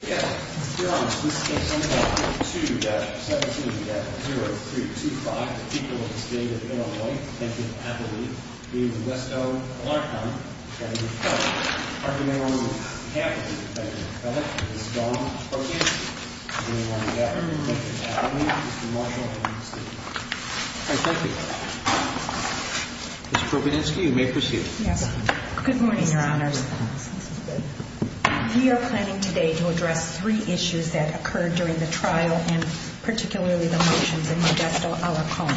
Mr. Provenansky, you may proceed. Yes. Good morning, Your Honors. We are planning today to address three issues that occurred during the trial and particularly the motions in Modesto-Alarcon.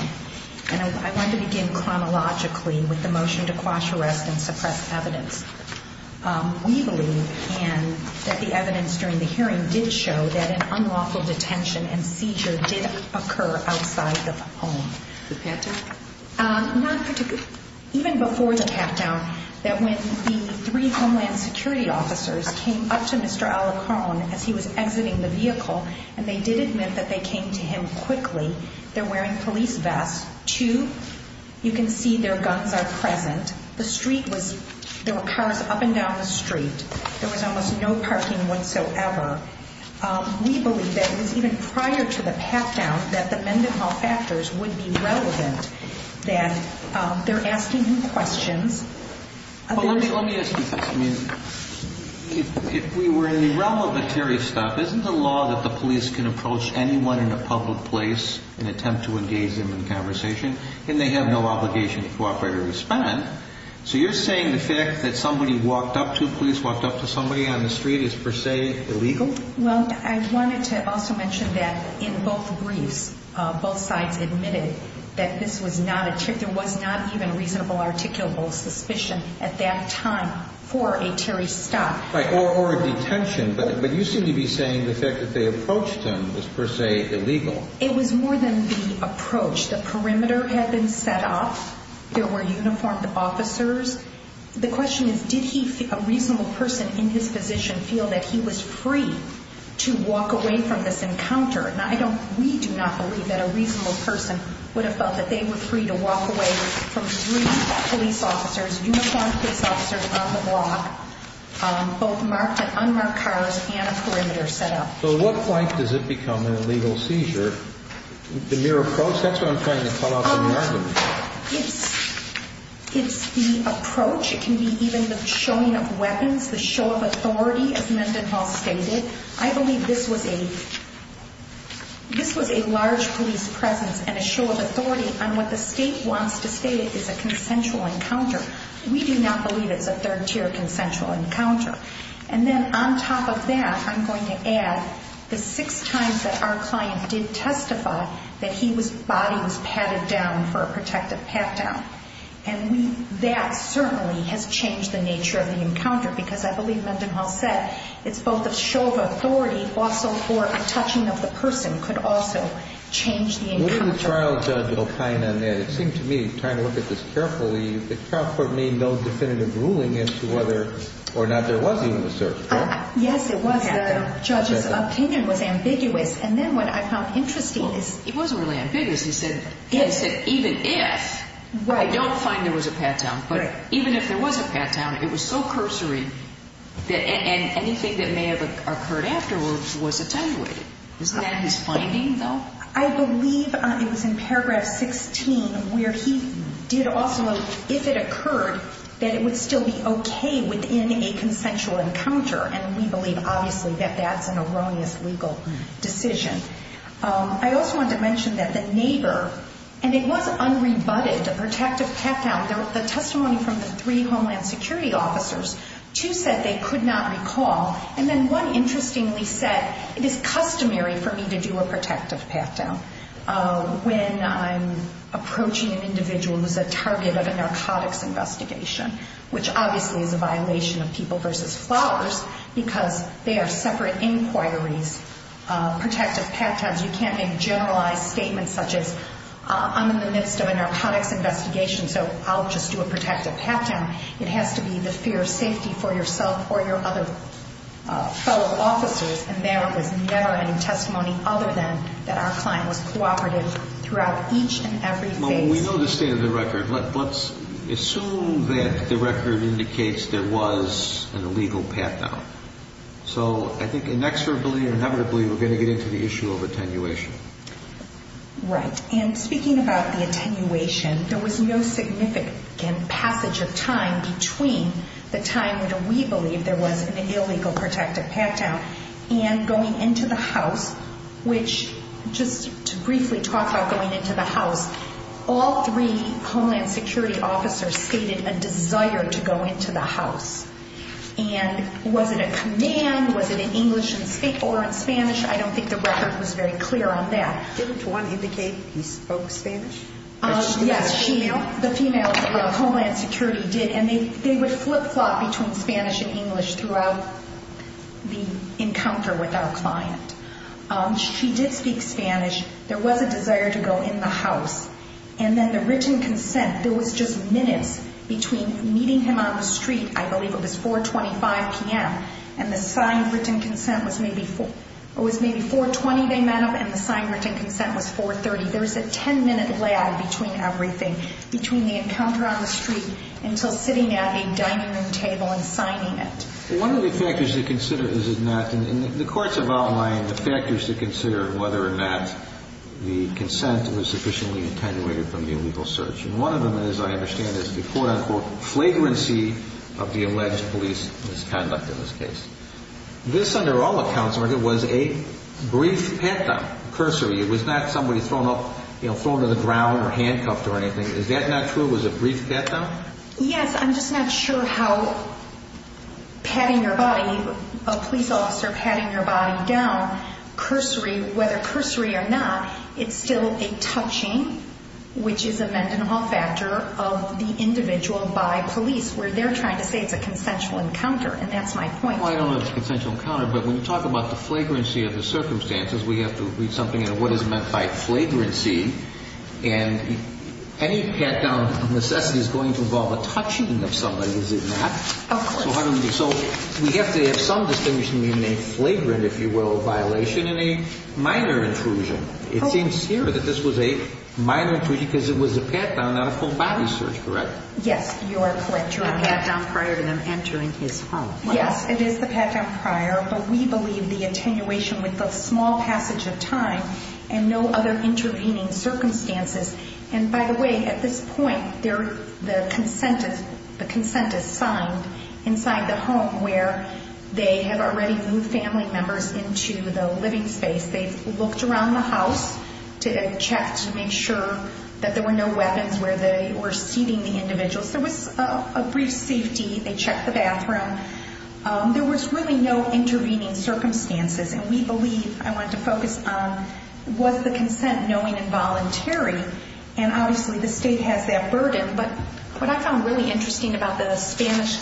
And I want to begin chronologically with the motion to quash arrest and suppress evidence. We believe, Anne, that the evidence during the hearing did show that an unlawful detention and seizure did occur outside the home. The pat-down? Not particularly. Even before the pat-down, that when the three Homeland Security officers came up to Mr. Alarcon as he was exiting the vehicle, and they did admit that they came to him quickly. They're wearing police vests. Two, you can see their guns are present. There were cars up and down the street. There was almost no parking whatsoever. We believe that it was even prior to the pat-down that the Mendenhall factors would be relevant, that they're asking him questions. Well, let me ask you this. I mean, if we were in the realm of material stuff, isn't the law that the police can approach anyone in a public place and attempt to engage them in conversation? And they have no obligation to cooperate or respond. So you're saying the fact that somebody walked up to, police walked up to somebody on the street, is per se illegal? Well, I wanted to also mention that in both briefs, both sides admitted that this was not a trip. There was not even reasonable articulable suspicion at that time for a Terry stop. Right. Or a detention. But you seem to be saying the fact that they approached him was per se illegal. It was more than the approach. The perimeter had been set up. There were uniformed officers. The question is, did he, a reasonable person in his position, feel that he was free to walk away from this encounter? Now, I don't, we do not believe that a reasonable person would have felt that they were free to walk away from three police officers, uniformed police officers on the block, both marked and unmarked cars and a perimeter set up. So what point does it become an illegal seizure? The mere approach? That's what I'm trying to call out from your argument. It's the approach. It can be even the showing of weapons, the show of authority, as Mendenhall stated. I believe this was a, this was a large police presence and a show of authority on what the state wants to state is a consensual encounter. We do not believe it's a third tier consensual encounter. And then on top of that, I'm going to add the six times that our client did testify that he was, body was patted down for a protective pat down. And we, that certainly has changed the nature of the encounter because I believe Mendenhall said it's both a show of authority, but also for a touching of the person could also change the encounter. What did the trial judge opine on that? It seemed to me, trying to look at this carefully, the trial court made no definitive ruling as to whether or not there was even a search warrant. Yes, it was. The judge's opinion was ambiguous. And then what I found interesting is. It was really ambiguous. He said, he said, even if I don't find there was a pat down, but even if there was a pat down, it was so cursory that anything that may have occurred afterwards was attenuated. Isn't that his finding though? I believe it was in paragraph 16 where he did also, if it occurred, that it would still be okay within a consensual encounter. And we believe obviously that that's an erroneous legal decision. I also wanted to mention that the neighbor, and it was unrebutted, a protective pat down. The testimony from the three Homeland Security officers, two said they could not recall. And then one interestingly said, it is customary for me to do a protective pat down when I'm approaching an individual who's a target of a narcotics investigation. Which obviously is a violation of people versus flowers because they are separate inquiries. Protective pat times. You can't make generalized statements such as I'm in the midst of a narcotics investigation, so I'll just do a protective pat down. It has to be the fear of safety for yourself or your other fellow officers. And there was never any testimony other than that our client was cooperative throughout each and every phase. Well, we know the state of the record. Let's assume that the record indicates there was an illegal pat down. So I think inexorably and inevitably we're going to get into the issue of attenuation. Right. And speaking about the attenuation, there was no significant passage of time between the time when we believe there was an illegal protective pat down and going into the house, which just to briefly talk about going into the house, all three Homeland Security officers stated a desire to go into the house. And was it a command? Was it in English or in Spanish? I don't think the record was very clear on that. Didn't one indicate he spoke Spanish? Yes, the female Homeland Security did, and they would flip-flop between Spanish and English throughout the encounter with our client. She did speak Spanish. There was a desire to go in the house. And then the written consent, there was just minutes between meeting him on the street, I believe it was 4.25 p.m., and the signed written consent was maybe 4.20 they met up, and the signed written consent was 4.30. There was a 10-minute lag between everything, between the encounter on the street until sitting at a dining room table and signing it. One of the factors to consider is that in the courts have outlined the factors to consider whether or not the consent was sufficiently attenuated from the illegal search. And one of them, as I understand it, is the quote-unquote flagrancy of the alleged police misconduct in this case. This, under all accounts, Margaret, was a brief pat-down. Cursory, it was not somebody thrown up, you know, thrown to the ground or handcuffed or anything. Is that not true? It was a brief pat-down? Yes, I'm just not sure how patting your body, a police officer patting your body down, cursory, whether cursory or not, it's still a touching, which is a meant and all factor of the individual by police, where they're trying to say it's a consensual encounter. And that's my point. Well, I don't know if it's a consensual encounter, but when you talk about the flagrancy of the circumstances, we have to read something into what is meant by flagrancy. And any pat-down necessity is going to involve a touching of somebody, is it not? Of course. So we have to have some distinction between a flagrant, if you will, violation and a minor intrusion. It seems here that this was a minor intrusion because it was a pat-down, not a full body search, correct? Yes, you are correct. You're a pat-down prior to them entering his home. Yes, it is the pat-down prior, but we believe the attenuation with the small passage of time and no other intervening circumstances. And by the way, at this point, the consent is signed inside the home where they have already moved family members into the living space. They've looked around the house to check to make sure that there were no weapons where they were seating the individuals. There was a brief safety. They checked the bathroom. There was really no intervening circumstances. And we believe, I want to focus on, was the consent knowing and voluntary? And obviously the state has that burden. But what I found really interesting about the Spanish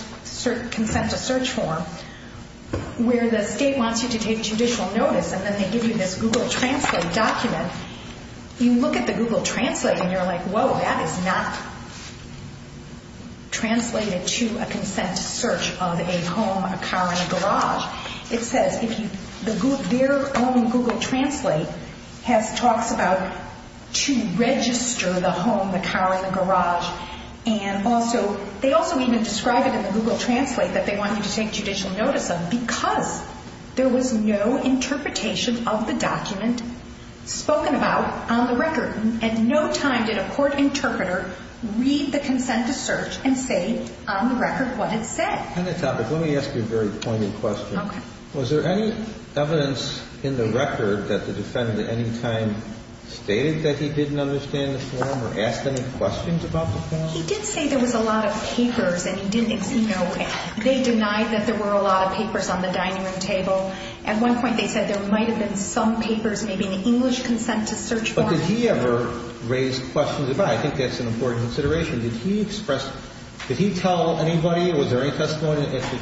consent to search form, where the state wants you to take judicial notice and then they give you this Google Translate document, you look at the Google Translate and you're like, whoa, that is not translated to a consent to search of a home, a car, and a garage. It says their own Google Translate talks about to register the home, the car, and the garage. And they also even describe it in the Google Translate that they want you to take judicial notice of because there was no interpretation of the document spoken about on the record. And no time did a court interpreter read the consent to search and say on the record what it said. On that topic, let me ask you a very pointed question. Okay. Was there any evidence in the record that the defendant at any time stated that he didn't understand the form or asked any questions about the form? He did say there was a lot of papers and he didn't see nowhere. They denied that there were a lot of papers on the dining room table. At one point they said there might have been some papers, maybe an English consent to search form. But did he ever raise questions about it? I think that's an important consideration. Did he express, did he tell anybody, was there any testimony at the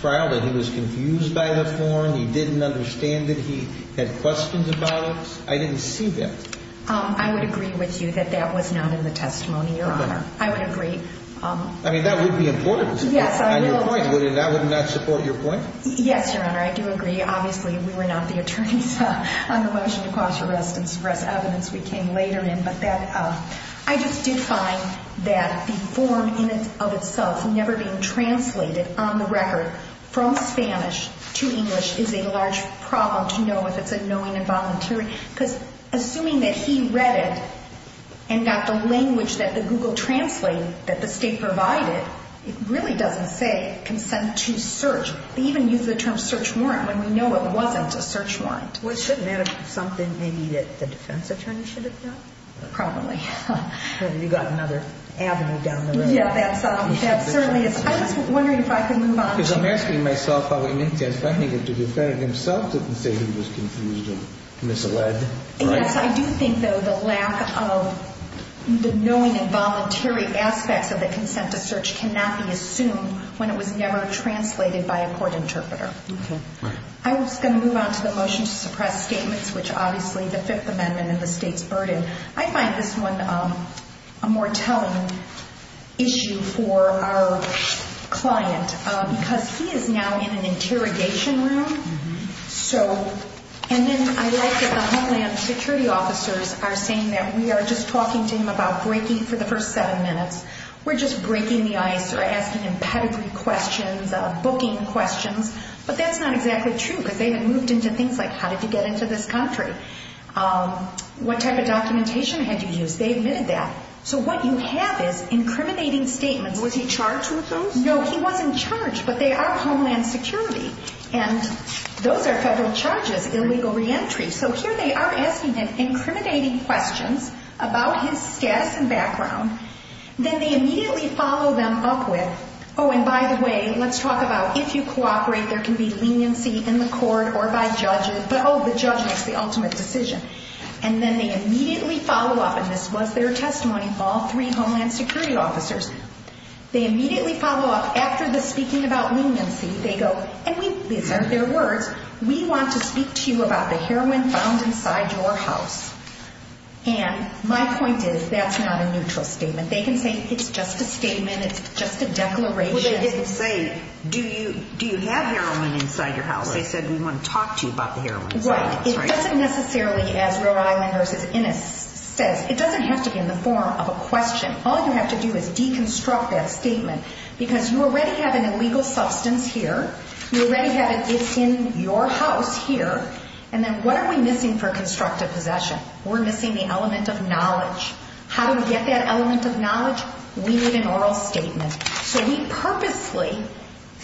trial that he was confused by the form, he didn't understand it, he had questions about it? I didn't see that. I would agree with you that that was not in the testimony, Your Honor. I would agree. I mean, that would be important. On your point, that would not support your point? Yes, Your Honor, I do agree. Obviously, we were not the attorneys on the motion to cause arrest and suppress evidence. We came later in. But I just did find that the form in and of itself never being translated on the record from Spanish to English is a large problem to know if it's a knowing and volunteering. Because assuming that he read it and got the language that the Google translated that the state provided, it really doesn't say consent to search. They even used the term search warrant when we know it wasn't a search warrant. Well, shouldn't that have been something maybe that the defense attorney should have done? Probably. You've got another avenue down the road. Yeah, that's certainly. I was wondering if I could move on. Because I'm asking myself how it makes sense that the defendant himself didn't say he was confused or misled. Yes, I do think, though, the lack of the knowing and voluntary aspects of the consent to search cannot be assumed when it was never translated by a court interpreter. Okay. I was going to move on to the motion to suppress statements, which obviously the Fifth Amendment and the state's burden. I find this one a more telling issue for our client, because he is now in an interrogation room. And then I like that the homeland security officers are saying that we are just talking to him about breaking for the first seven minutes. We're just breaking the ice or asking him pedigree questions, booking questions. But that's not exactly true, because they have moved into things like, how did you get into this country? What type of documentation had you used? They admitted that. So what you have is incriminating statements. Was he charged with those? No, he wasn't charged, but they are homeland security. And those are federal charges, illegal reentry. So here they are asking him incriminating questions about his status and background. Then they immediately follow them up with, oh, and by the way, let's talk about if you cooperate, there can be leniency in the court or by judges. But, oh, the judge makes the ultimate decision. And then they immediately follow up, and this was their testimony, all three homeland security officers, they immediately follow up after the speaking about leniency. They go, and these aren't their words, we want to speak to you about the heroin found inside your house. And my point is, that's not a neutral statement. They can say, it's just a statement, it's just a declaration. Well, they didn't say, do you have heroin inside your house? They said, we want to talk to you about the heroin inside your house, right? Right. It doesn't necessarily, as Rhode Island versus Innis says, it doesn't have to be in the form of a question. All you have to do is deconstruct that statement because you already have an illegal substance here. You already have it, it's in your house here. And then what are we missing for constructive possession? We're missing the element of knowledge. How do we get that element of knowledge? We need an oral statement. So we purposely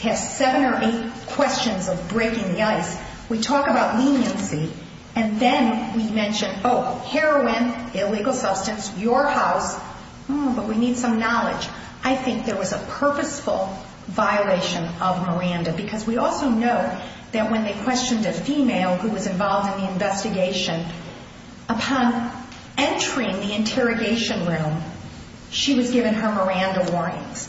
have seven or eight questions of breaking the ice. We talk about leniency, and then we mention, oh, heroin, illegal substance, your house, but we need some knowledge. I think there was a purposeful violation of Miranda because we also know that when they questioned a female who was involved in the investigation, upon entering the interrogation room, she was given her Miranda warnings.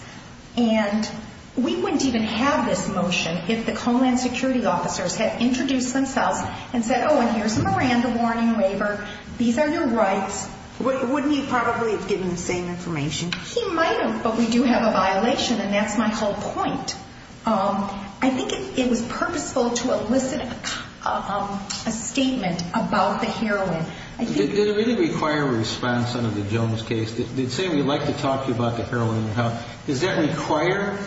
And we wouldn't even have this motion if the Homeland Security officers had introduced themselves and said, oh, and here's a Miranda warning waiver, these are your rights. Wouldn't he probably have given the same information? He might have, but we do have a violation, and that's my whole point. I think it was purposeful to elicit a statement about the heroin. Did it really require a response under the Jones case? They'd say, we'd like to talk to you about the heroin in your house. Does that require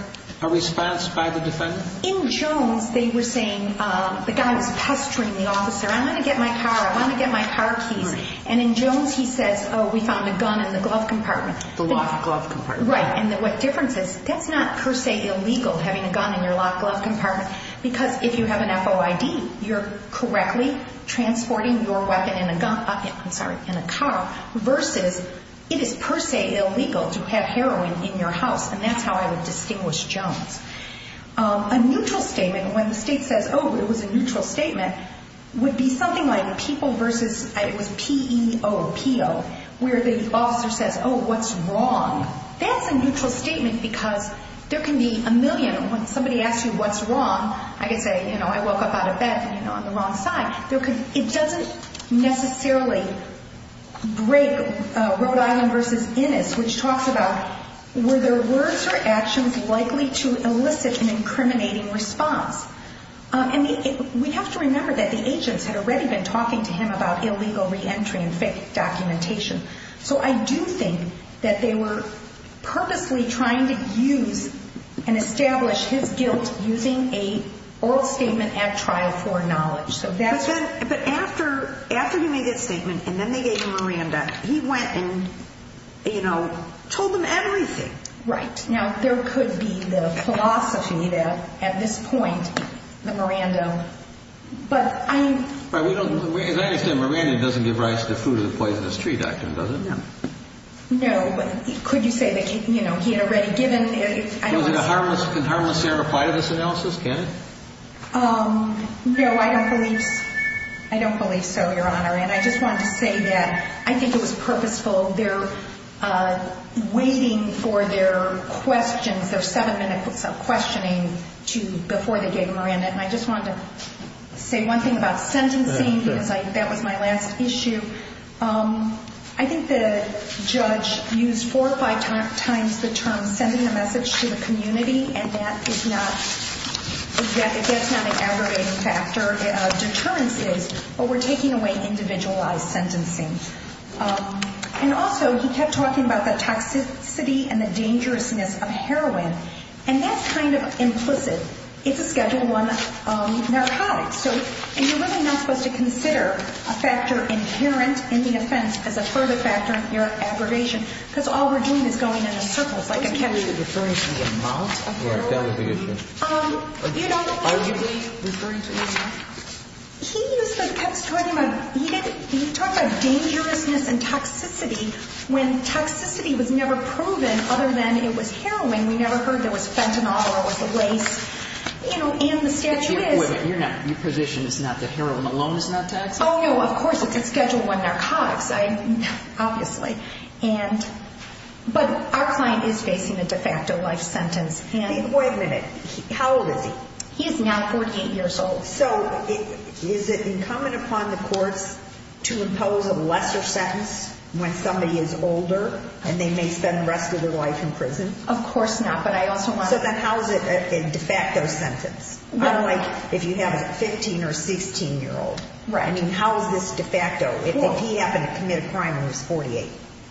a response by the defendant? In Jones, they were saying the guy was pestering the officer, I want to get my car, I want to get my car keys. And in Jones, he says, oh, we found a gun in the glove compartment. The locked glove compartment. Right, and what difference is, that's not per se illegal, having a gun in your locked glove compartment, because if you have an FOID, you're correctly transporting your weapon in a gun, I'm sorry, in a car, versus it is per se illegal to have heroin in your house, and that's how I would distinguish Jones. A neutral statement, when the state says, oh, it was a neutral statement, would be something like people versus, it was P-E-O, P-O, where the officer says, oh, what's wrong? That's a neutral statement because there can be a million, when somebody asks you what's wrong, I could say, you know, I woke up out of bed on the wrong side. It doesn't necessarily break Rhode Island versus Innis, which talks about, were there words or actions likely to elicit an incriminating response? And we have to remember that the agents had already been talking to him about illegal reentry and fake documentation. So I do think that they were purposely trying to use and establish his guilt using an oral statement at trial for knowledge. But after he made that statement and then they gave him Miranda, he went and, you know, told them everything. Right. Now, there could be the philosophy that at this point, the Miranda, but I'm... To that extent, Miranda doesn't give rise to the fruit of the poisonous tree doctrine, does it? No. No. Could you say that, you know, he had already given... Can harmless error apply to this analysis? Can it? No, I don't believe so, Your Honor. And I just wanted to say that I think it was purposeful. They're waiting for their questions, their seven-minute questioning before they gave him Miranda. And I just wanted to say one thing about sentencing because that was my last issue. I think the judge used four or five times the term sending a message to the community, and that is not... That's not an aggravating factor. A deterrence is. But we're taking away individualized sentencing. And also, he kept talking about the toxicity and the dangerousness of heroin. And that's kind of implicit. It's a Schedule I narcotic. So, and you're really not supposed to consider a factor inherent in the offense as a further factor in your aggravation. Because all we're doing is going in circles like a... Are you referring to the amount of heroin? Yeah, that was the issue. You know... Are you referring to the amount? He used the...kept talking about...he talked about dangerousness and toxicity when toxicity was never proven other than it was heroin. We never heard there was fentanyl or it was a waste. You know, and the statute is... You're not...your position is not that heroin alone is not toxic? Oh, no. Of course, it's a Schedule I narcotics. I...obviously. And...but our client is facing a de facto life sentence. Wait a minute. How old is he? He is now 48 years old. So, is it incumbent upon the courts to impose a lesser sentence when somebody is older and they may spend the rest of their life in prison? Of course not, but I also want to... So then how is it a de facto sentence? Unlike if you have a 15 or 16-year-old. Right. I mean, how is this de facto if he happened to commit a crime when he was 48?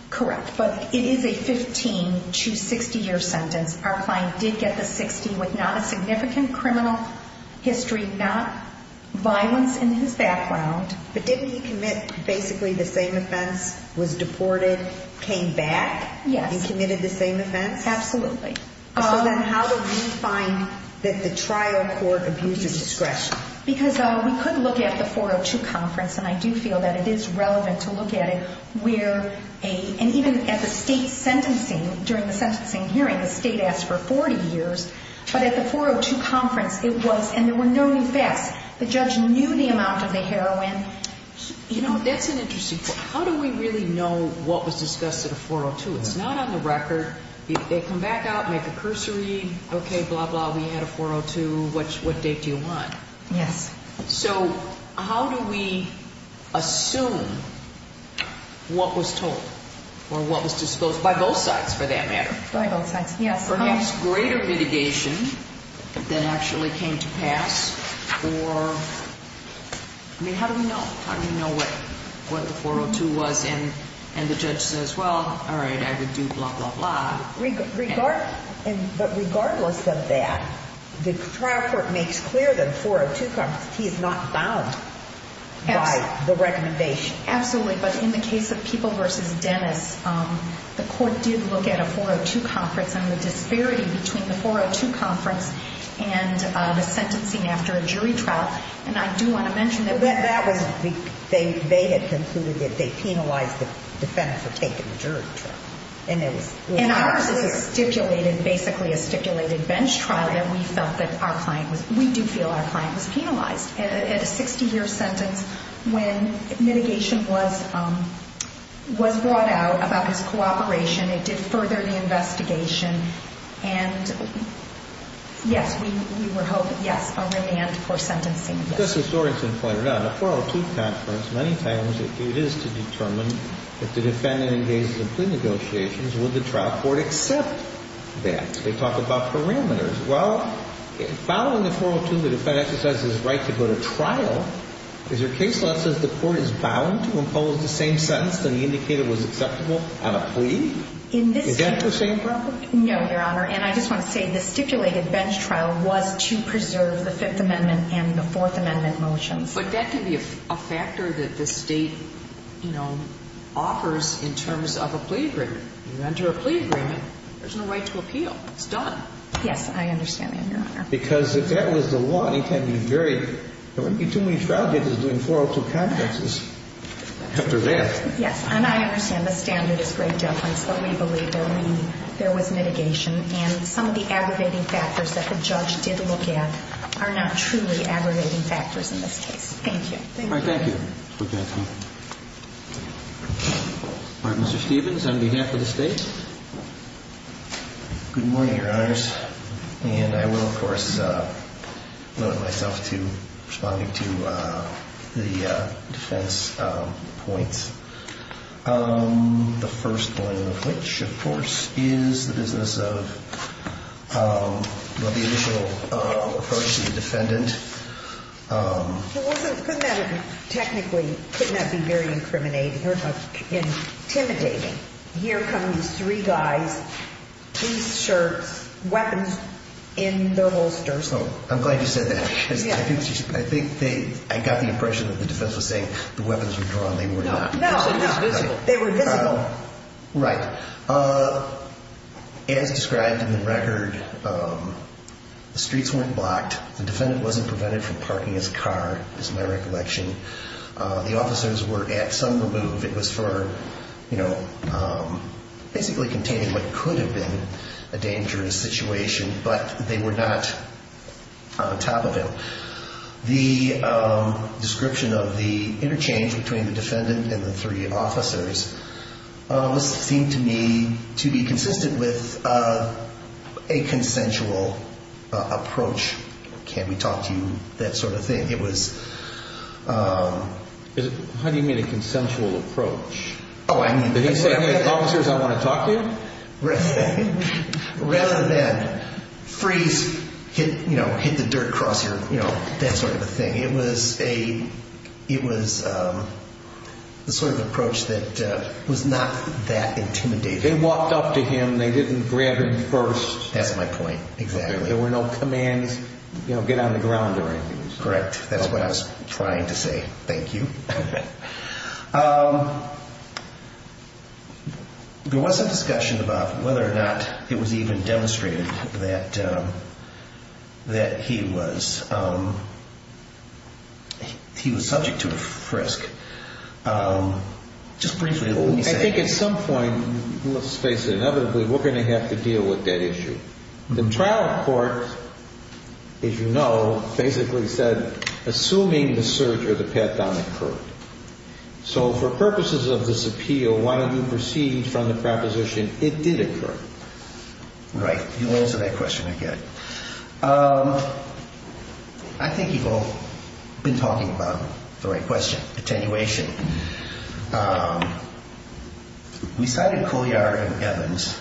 Correct, but it is a 15 to 60-year sentence. Our client did get the 60 with not a significant criminal history, not violence in his background. But didn't he commit basically the same offense, was deported, came back? Yes. He committed the same offense? Absolutely. So then how do we find that the trial court abused his discretion? Because we could look at the 402 conference, and I do feel that it is relevant to look at it, where a... But at the 402 conference, it was, and there were no new facts. The judge knew the amount of the heroin. You know, that's an interesting point. How do we really know what was discussed at a 402? It's not on the record. They come back out, make a cursory, okay, blah, blah, we had a 402, what date do you want? Yes. So how do we assume what was told or what was disclosed by both sides for that matter? By both sides, yes. Perhaps greater litigation than actually came to pass for, I mean, how do we know? How do we know what the 402 was? And the judge says, well, all right, I would do blah, blah, blah. But regardless of that, the trial court makes clear that the 402 conference, he is not bound by the recommendation. Absolutely, but in the case of People v. Dennis, the court did look at a 402 conference and the disparity between the 402 conference and the sentencing after a jury trial. And I do want to mention that... That was, they had concluded that they penalized the defendants for taking the jury trial. And it was... And ours is a stipulated, basically a stipulated bench trial that we felt that our client was, we do feel our client was penalized. And a 60-year sentence when mitigation was brought out about his cooperation. It did further the investigation. And, yes, we were hoping, yes, a remand for sentencing. Just as Dorrington pointed out, a 402 conference, many times it is to determine if the defendant engages in plea negotiations, will the trial court accept that? They talk about parameters. Well, following the 402, the defendant has his right to go to trial. Is there case law that says the court is bound to impose the same sentence that he indicated was acceptable on a plea? Is that the same problem? No, Your Honor. And I just want to say the stipulated bench trial was to preserve the Fifth Amendment and the Fourth Amendment motions. But that could be a factor that the state, you know, offers in terms of a plea agreement. You enter a plea agreement, there's no right to appeal. It's done. Yes, I understand that, Your Honor. Because if that was the law, it would be too many trial cases doing 402 conferences after that. Yes. And I understand the standard is great deference, but we believe there was mitigation. And some of the aggravating factors that the judge did look at are not truly aggravating factors in this case. Thank you. Thank you. All right, thank you. All right, Mr. Stevens, on behalf of the state. Good morning, Your Honors. And I will, of course, limit myself to responding to the defense points. The first one of which, of course, is the business of the initial approach to the defendant. It wasn't, couldn't have, technically, couldn't have been very incriminating or intimidating. Here come these three guys, t-shirts, weapons in their holsters. I'm glad you said that because I think they, I got the impression that the defense was saying the weapons were drawn, they were not. No, no. They were visible. They were visible. Right. As described in the record, the streets weren't blocked. The defendant wasn't prevented from parking his car, is my recollection. The officers were at some remove. It was for, you know, basically containing what could have been a dangerous situation, but they were not on top of him. The description of the interchange between the defendant and the three officers seemed to me to be consistent with a consensual approach. Can we talk to you, that sort of thing. How do you mean a consensual approach? Oh, I mean. Did he say, hey, officers, I want to talk to you? Rather than freeze, you know, hit the dirt cross your, you know, that sort of thing. It was a, it was the sort of approach that was not that intimidating. They walked up to him, they didn't grab him first. That's my point, exactly. There were no commands, you know, get on the ground or anything. Correct. That's what I was trying to say. Thank you. There was some discussion about whether or not it was even demonstrated that he was, he was subject to a frisk. Just briefly, let me say. I think at some point, let's face it, inevitably we're going to have to deal with that issue. The trial court, as you know, basically said, assuming the search or the pat down occurred. So for purposes of this appeal, why don't you proceed from the proposition it did occur? Right. You answer that question again. I think you've all been talking about the right question, attenuation. We cited Couliard and Evans.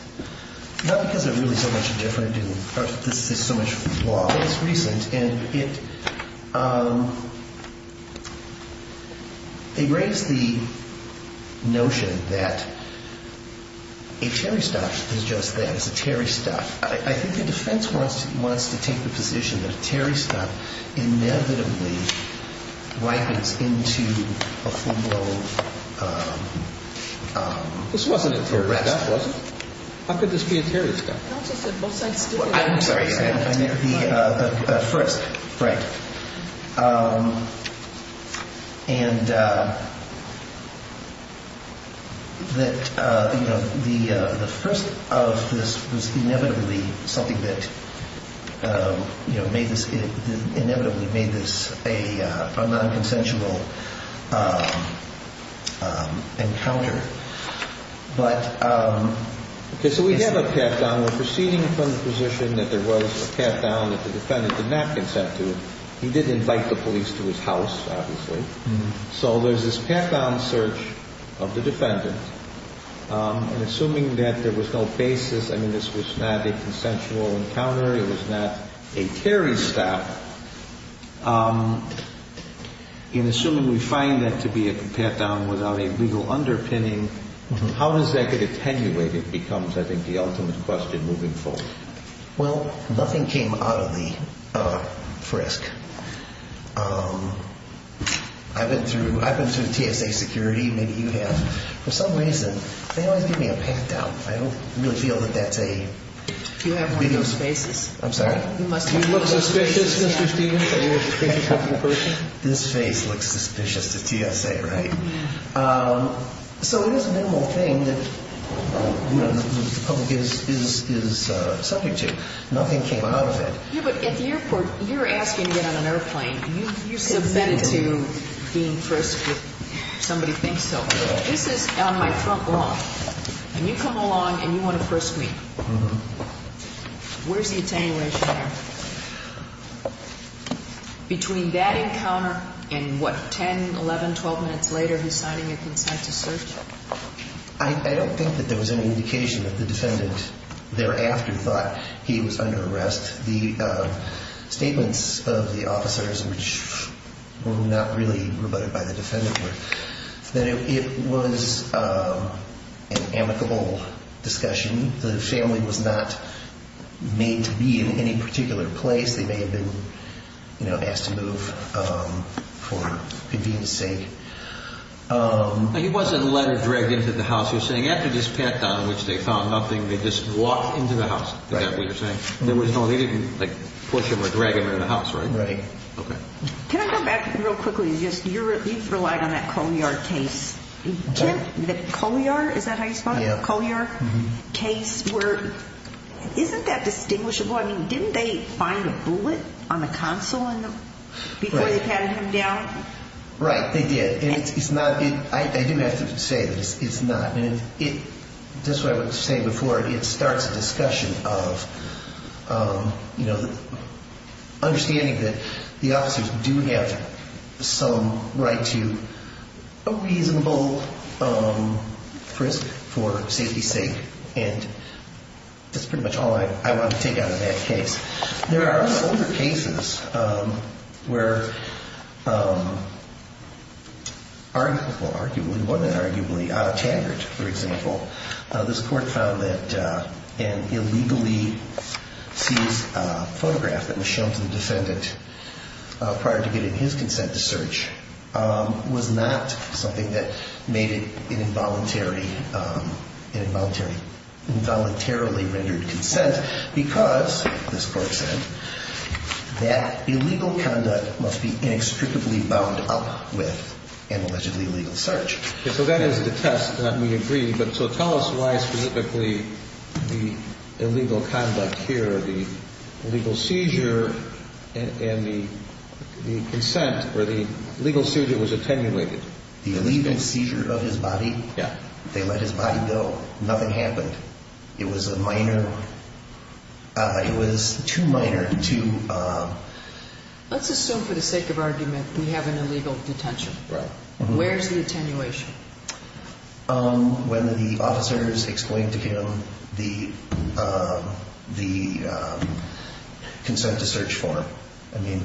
Not because they're really so much different. This is so much more recent. And it, it raised the notion that a Terry stuff is just that, it's a Terry stuff. I think the defense wants to take the position that a Terry stuff inevitably ripens into a full-blown arrest. This wasn't a Terry stuff, was it? How could this be a Terry stuff? Counsel said both sides did the same thing. I'm sorry. The first, right. And that, you know, the first of this was inevitably something that, you know, inevitably made this a non-consensual encounter. But. Okay, so we have a pat down. We're proceeding from the position that there was a pat down that the defendant did not consent to. He did invite the police to his house, obviously. So there's this pat down search of the defendant. And assuming that there was no basis, I mean, this was not a consensual encounter. It was not a Terry stuff. And assuming we find that to be a pat down without a legal underpinning, how does that get attenuated becomes, I think, the ultimate question moving forward. Well, nothing came out of the frisk. I've been through, I've been through TSA security, maybe you have. For some reason, they always give me a pat down. I don't really feel that that's a. Do you have one of those spaces? I'm sorry. You must look suspicious, Mr. This face looks suspicious to TSA, right? So it is a minimal thing that the public is subject to. Nothing came out of it. Yeah, but at the airport, you're asking to get on an airplane. You submitted to being first. If somebody thinks so. This is on my front lawn. And you come along and you want to frisk me. Where's the attenuation? Between that encounter and what, 10, 11, 12 minutes later, he's signing a consent to search. I don't think that there was any indication that the defendant thereafter thought he was under arrest. The statements of the officers, which were not really rebutted by the defendant. It was an amicable discussion. The family was not made to be in any particular place. They may have been asked to move for convenience sake. He wasn't led or dragged into the house. You're saying after this pat down, which they found nothing, they just walked into the house. Is that what you're saying? They didn't push him or drag him into the house, right? Right. Can I go back real quickly? You relied on that Colyard case. The Colyard, is that how you spell it? Yeah. Colyard case. Isn't that distinguishable? Didn't they find a bullet on the console before they patted him down? Right, they did. I do have to say that it's not. Just what I was saying before, it starts a discussion of understanding that the officers do have some right to a reasonable frisk for safety's sake. That's pretty much all I want to take out of that case. There are older cases where arguably, well, arguably, out of Taggart, for example, this court found that an illegally seized photograph that was shown to the defendant prior to getting his consent to search was not something that made it an involuntarily rendered consent because, this court said, that illegal conduct must be inextricably bound up with an allegedly illegal search. So that is the test that we agree. But so tell us why specifically the illegal conduct here, the legal seizure and the consent, or the legal seizure was attenuated. The illegal seizure of his body? Yeah. They let his body go. Nothing happened. It was a minor, it was too minor to. Let's assume for the sake of argument, we have an illegal detention. Right. Where's the attenuation? When the officers explained to him the consent to search form. I mean,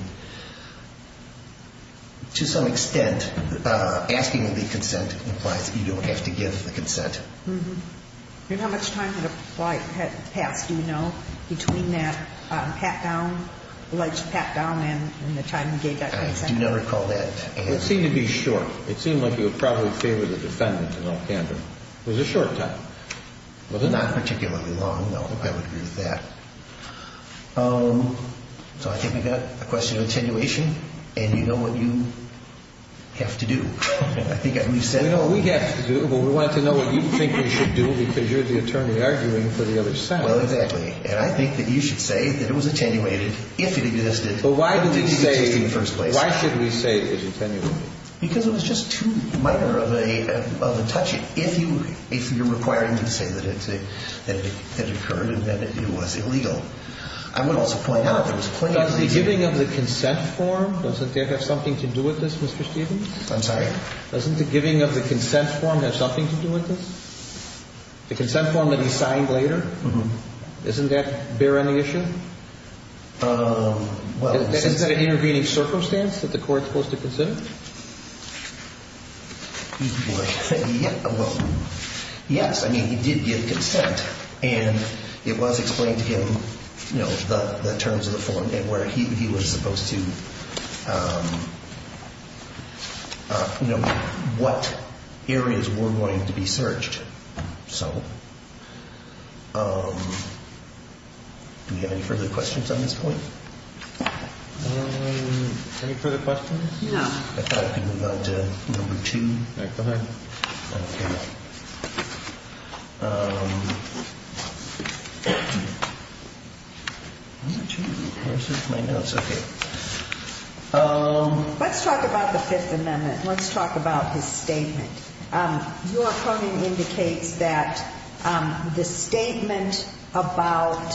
to some extent, asking the consent implies that you don't have to give the consent. Mm-hmm. And how much time had passed, do you know, between that pat-down, alleged pat-down and the time you gave that consent? I do not recall that. It seemed to be short. It seemed like you would probably favor the defendant in all candor. It was a short time, wasn't it? Not particularly long, no. I would agree with that. So I think we've got a question of attenuation, and you know what you have to do. I think we've said. We know what we have to do, but we wanted to know what you think we should do because you're the attorney arguing for the other side. Well, exactly. And I think that you should say that it was attenuated if it existed. But why did we say. If it existed in the first place. Why should we say it was attenuated? Because it was just too minor of a touch. If you're requiring me to say that it occurred and that it was illegal, I would also point out there was plenty of reason. Does the giving of the consent form, doesn't that have something to do with this, Mr. Stevens? I'm sorry? Doesn't the giving of the consent form have something to do with this? The consent form that he signed later? Mm-hmm. Doesn't that bear any issue? Is that an intervening circumstance that the court's supposed to consider? Well, yes. I mean, he did give consent. And it was explained to him, you know, the terms of the form and where he was supposed to, you know, what areas were going to be searched. So do we have any further questions on this point? Any further questions? No. I thought I could move on to number two back behind. Okay. Number two. Where's my notes? Okay. Let's talk about the Fifth Amendment. Let's talk about his statement. Your opponent indicates that the statement about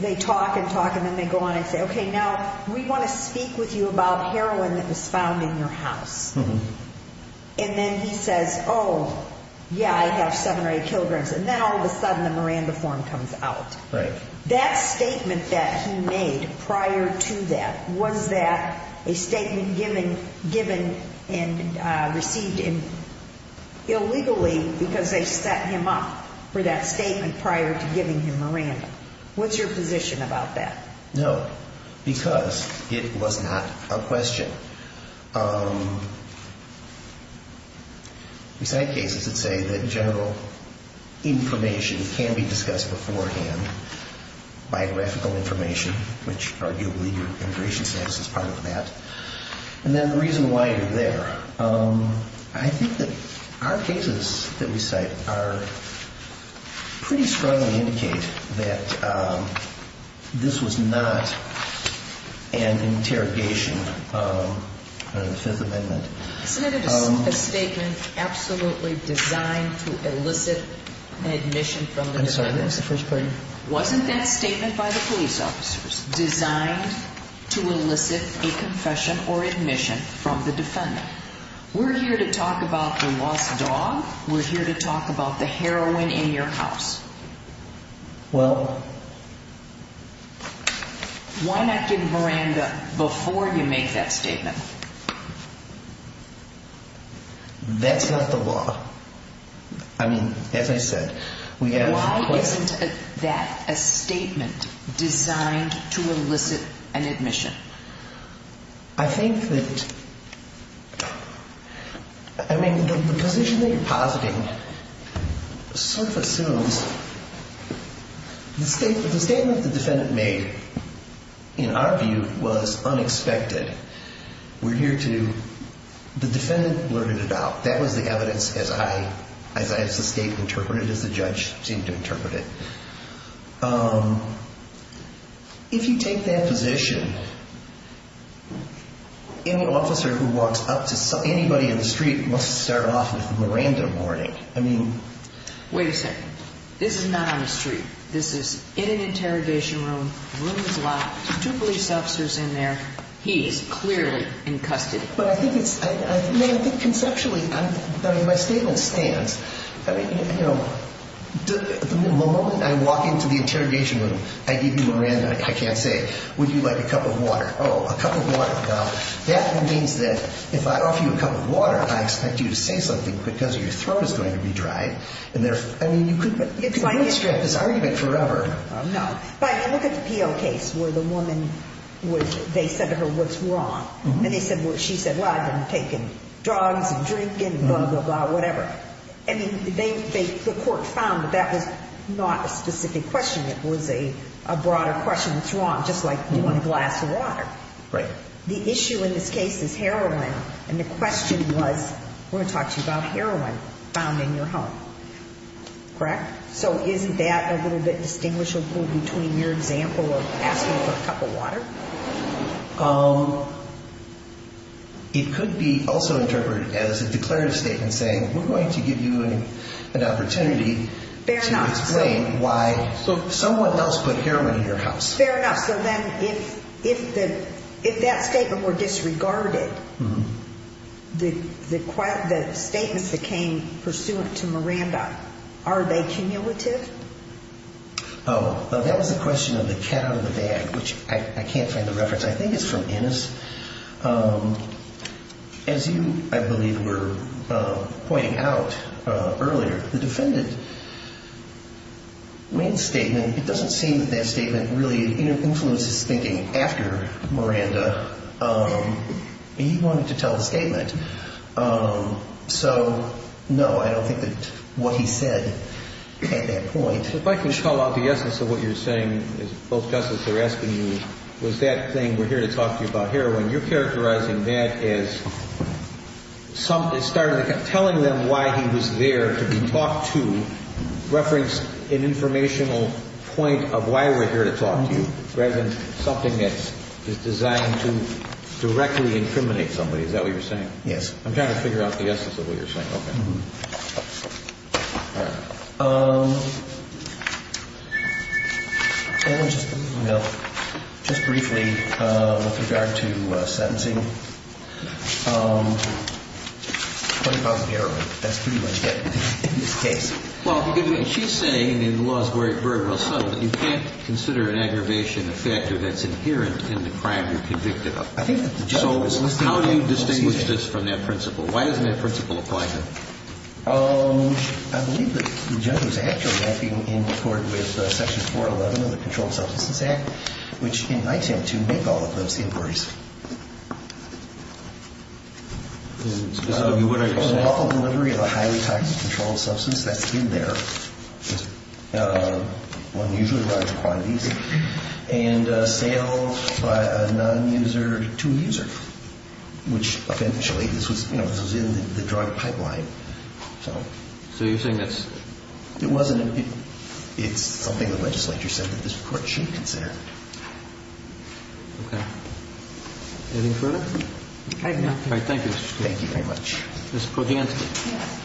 they talk and talk and then they go on and say, okay, now we want to speak with you about heroin that was found in your house. Mm-hmm. And then he says, oh, yeah, I have 7 or 8 kilograms. And then all of a sudden the Miranda form comes out. Right. That statement that he made prior to that, was that a statement given and received illegally because they set him up for that statement prior to giving him Miranda? What's your position about that? No. Because it was not a question. So we cite cases that say that general information can be discussed beforehand, biographical information, which arguably your immigration status is part of that. And then the reason why you're there. I think that our cases that we cite are pretty strongly indicate that this was not an interrogation of the Fifth Amendment. Isn't it a statement absolutely designed to elicit admission from the defendant? I'm sorry. That was the first part. Wasn't that statement by the police officers designed to elicit a confession or admission from the defendant? We're here to talk about the lost dog. We're here to talk about the heroin in your house. Well. Why not give Miranda before you make that statement? That's not the law. I mean, as I said, we have. Why isn't that a statement designed to elicit an admission? I think that. I mean, the position that you're positing sort of assumes. The statement the defendant made, in our view, was unexpected. We're here to. The defendant blurted it out. That was the evidence, as I, as I, as the state interpreted, as the judge seemed to interpret it. If you take that position, any officer who walks up to anybody in the street must start off with a Miranda warning. I mean. Wait a second. This is not on the street. This is in an interrogation room. The room is locked. Two police officers in there. He is clearly in custody. But I think it's. I mean, I think conceptually. I mean, my statement stands. The moment I walk into the interrogation room, I give you Miranda. I can't say. Would you like a cup of water? Oh, a cup of water. Now, that means that if I offer you a cup of water, I expect you to say something because your throat is going to be dried. And there's. I mean, you could. It's like this argument forever. No, but look at the P.O. case where the woman was. They said to her, what's wrong? And they said, well, she said, well, I've been taking drugs and drinking, blah, blah, blah, whatever. I mean, the court found that that was not a specific question. It was a broader question. What's wrong? Just like one glass of water. Right. The issue in this case is heroin. And the question was, we're going to talk to you about heroin found in your home. Correct. So isn't that a little bit distinguishable between your example of asking for a cup of water? It could be also interpreted as a declarative statement saying we're going to give you an opportunity to explain why someone else put heroin in your house. Fair enough. So then if that statement were disregarded, the statements that came pursuant to Miranda, are they cumulative? Oh, that was a question of the cat out of the bag, which I can't find the reference. I think it's from Ennis. As you, I believe, were pointing out earlier, the defendant made a statement. It doesn't seem that that statement really influenced his thinking after Miranda. He wanted to tell the statement. So, no, I don't think that what he said at that point. If I can call out the essence of what you're saying, both justices are asking you, was that thing we're here to talk to you about heroin, you're characterizing that as telling them why he was there to be talked to, reference an informational point of why we're here to talk to you, rather than something that is designed to directly incriminate somebody. Is that what you're saying? Yes. I'm trying to figure out the essence of what you're saying. Okay. All right. Well, just briefly with regard to sentencing, what about heroin? That's pretty much it in this case. Well, she's saying, and the law is very well settled, that you can't consider an aggravation effect if it's inherent in the crime you're convicted of. So how do you distinguish this from that principle? Why doesn't that principle apply to him? I believe that the judge was actually acting in court with Section 411 of the Controlled Substances Act, which invites him to make all of those inquiries. So you would understand. Offer delivery of a highly toxic controlled substance that's in there, unusually large quantities, and sales by a non-user to a user, which eventually this was in the drug pipeline. So you're saying that's? It wasn't. It's something the legislature said that this Court should consider. Okay. I have nothing. All right. Thank you, Mr. Stewart. Thank you very much. Ms. Kodansky. Yes.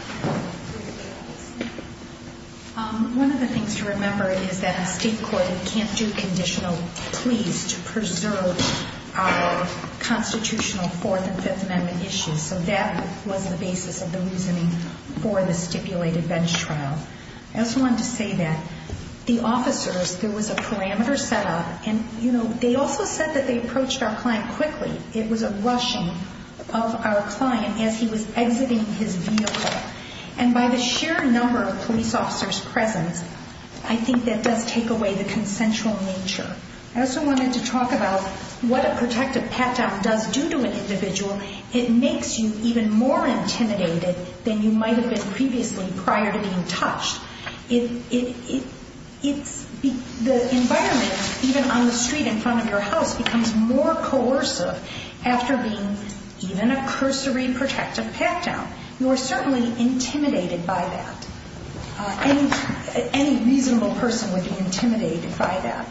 One of the things to remember is that in state court, you can't do conditional pleas to preserve our constitutional Fourth and Fifth Amendment issues. So that was the basis of the reasoning for the stipulated bench trial. I also wanted to say that the officers, there was a parameter set up, and they also said that they approached our client quickly. It was a rushing of our client as he was exiting his vehicle. And by the sheer number of police officers present, I think that does take away the consensual nature. I also wanted to talk about what a protective pat-down does due to an individual. It makes you even more intimidated than you might have been previously prior to being touched. The environment, even on the street in front of your house, becomes more coercive after being given a cursory protective pat-down. You are certainly intimidated by that. Any reasonable person would be intimidated by that.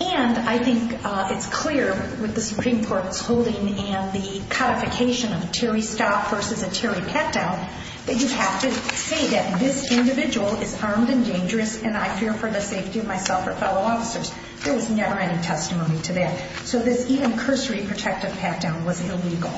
And I think it's clear with the Supreme Court's holding and the codification of a Terry stop versus a Terry pat-down that you have to say that this individual is armed and dangerous and I fear for the safety of myself or fellow officers. There was never any testimony to that. So this even cursory protective pat-down was illegal.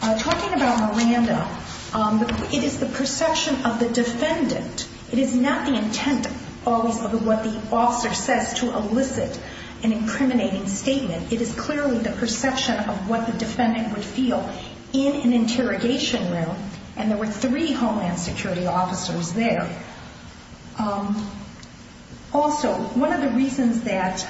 Talking about Miranda, it is the perception of the defendant. It is not the intent always of what the officer says to elicit an incriminating statement. It is clearly the perception of what the defendant would feel in an interrogation room, and there were three Homeland Security officers there. Also, one of the reasons that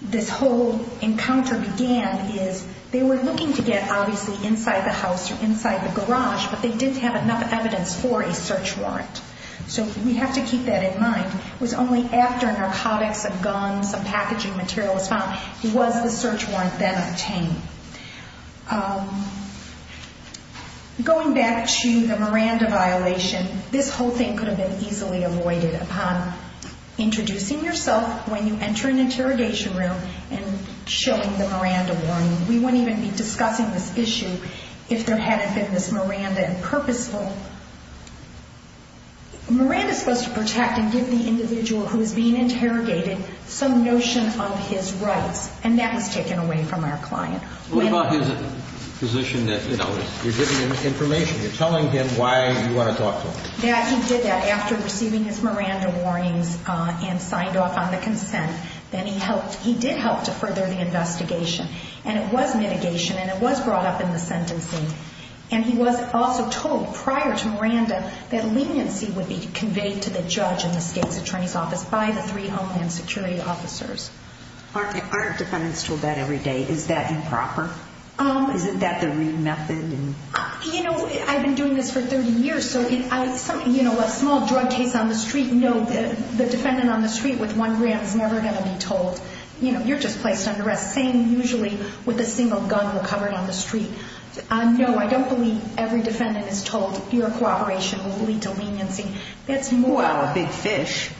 this whole encounter began is they were looking to get, obviously, inside the house or inside the garage, but they didn't have enough evidence for a search warrant. So we have to keep that in mind. It was only after narcotics, a gun, some packaging material was found was the search warrant then obtained. Going back to the Miranda violation, this whole thing could have been easily avoided upon introducing yourself when you enter an interrogation room and showing the Miranda warning. We wouldn't even be discussing this issue if there hadn't been this Miranda and purposeful. Miranda is supposed to protect and give the individual who is being interrogated some notion of his rights, and that was taken away from our client. What about his position that, you know, you're giving him information, you're telling him why you want to talk to him? Yeah, he did that. After receiving his Miranda warnings and signed off on the consent, then he did help to further the investigation, and it was mitigation and it was brought up in the sentencing. And he was also told prior to Miranda that leniency would be conveyed to the judge and the state's attorney's office by the three Homeland Security officers. Aren't defendants told that every day? Is that improper? Isn't that the rude method? You know, I've been doing this for 30 years. So, you know, a small drug case on the street, no, the defendant on the street with one gram is never going to be told. You know, you're just placed under arrest, same usually with a single gun recovered on the street. No, I don't believe every defendant is told your cooperation will lead to leniency. Wow, a big fish.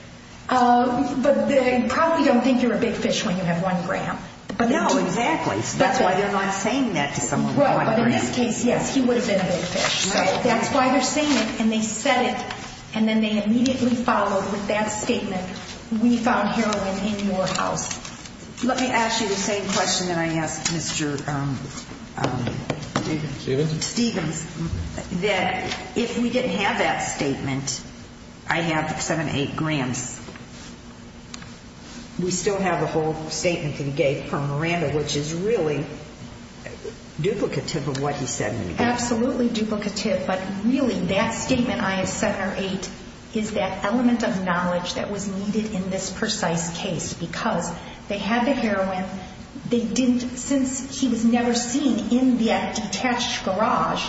But they probably don't think you're a big fish when you have one gram. No, exactly. That's why they're not saying that to someone with one gram. In this case, yes, he would have been a big fish. That's why they're saying it, and they said it, and then they immediately followed with that statement, we found heroin in your house. Let me ask you the same question that I asked Mr. Stevens. That if we didn't have that statement, I have 7 or 8 grams, we still have the whole statement that he gave from Miranda, which is really duplicative of what he said in the case. Absolutely duplicative, but really that statement, I have 7 or 8, is that element of knowledge that was needed in this precise case because they had the heroin. Since he was never seen in that detached garage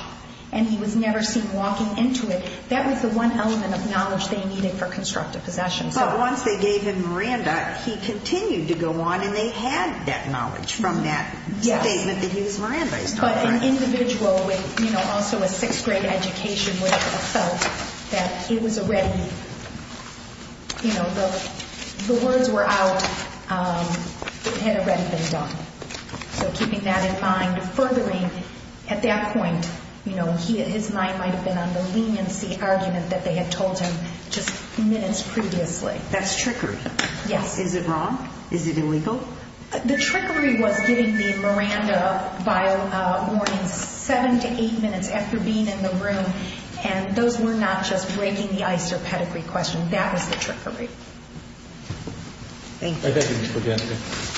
and he was never seen walking into it, that was the one element of knowledge they needed for constructive possession. But once they gave him Miranda, he continued to go on and they had that knowledge from that statement that he was Miranda. But an individual with also a 6th grade education would have felt that it was already, you know, the words were out, it had already been done. So keeping that in mind, furthering at that point, you know, his mind might have been on the leniency argument that they had told him just minutes previously. That's trickery. Yes. Is it wrong? Is it illegal? The trickery was giving me Miranda by morning 7 to 8 minutes after being in the room, and those were not just breaking the ice or pedigree questions. That was the trickery. Thank you. Thank you, Ms. Podesta.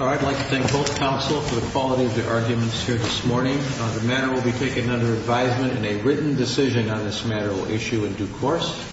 I'd like to thank both counsel for the quality of their arguments here this morning. The matter will be taken under advisement and a written decision on this matter will issue in due course.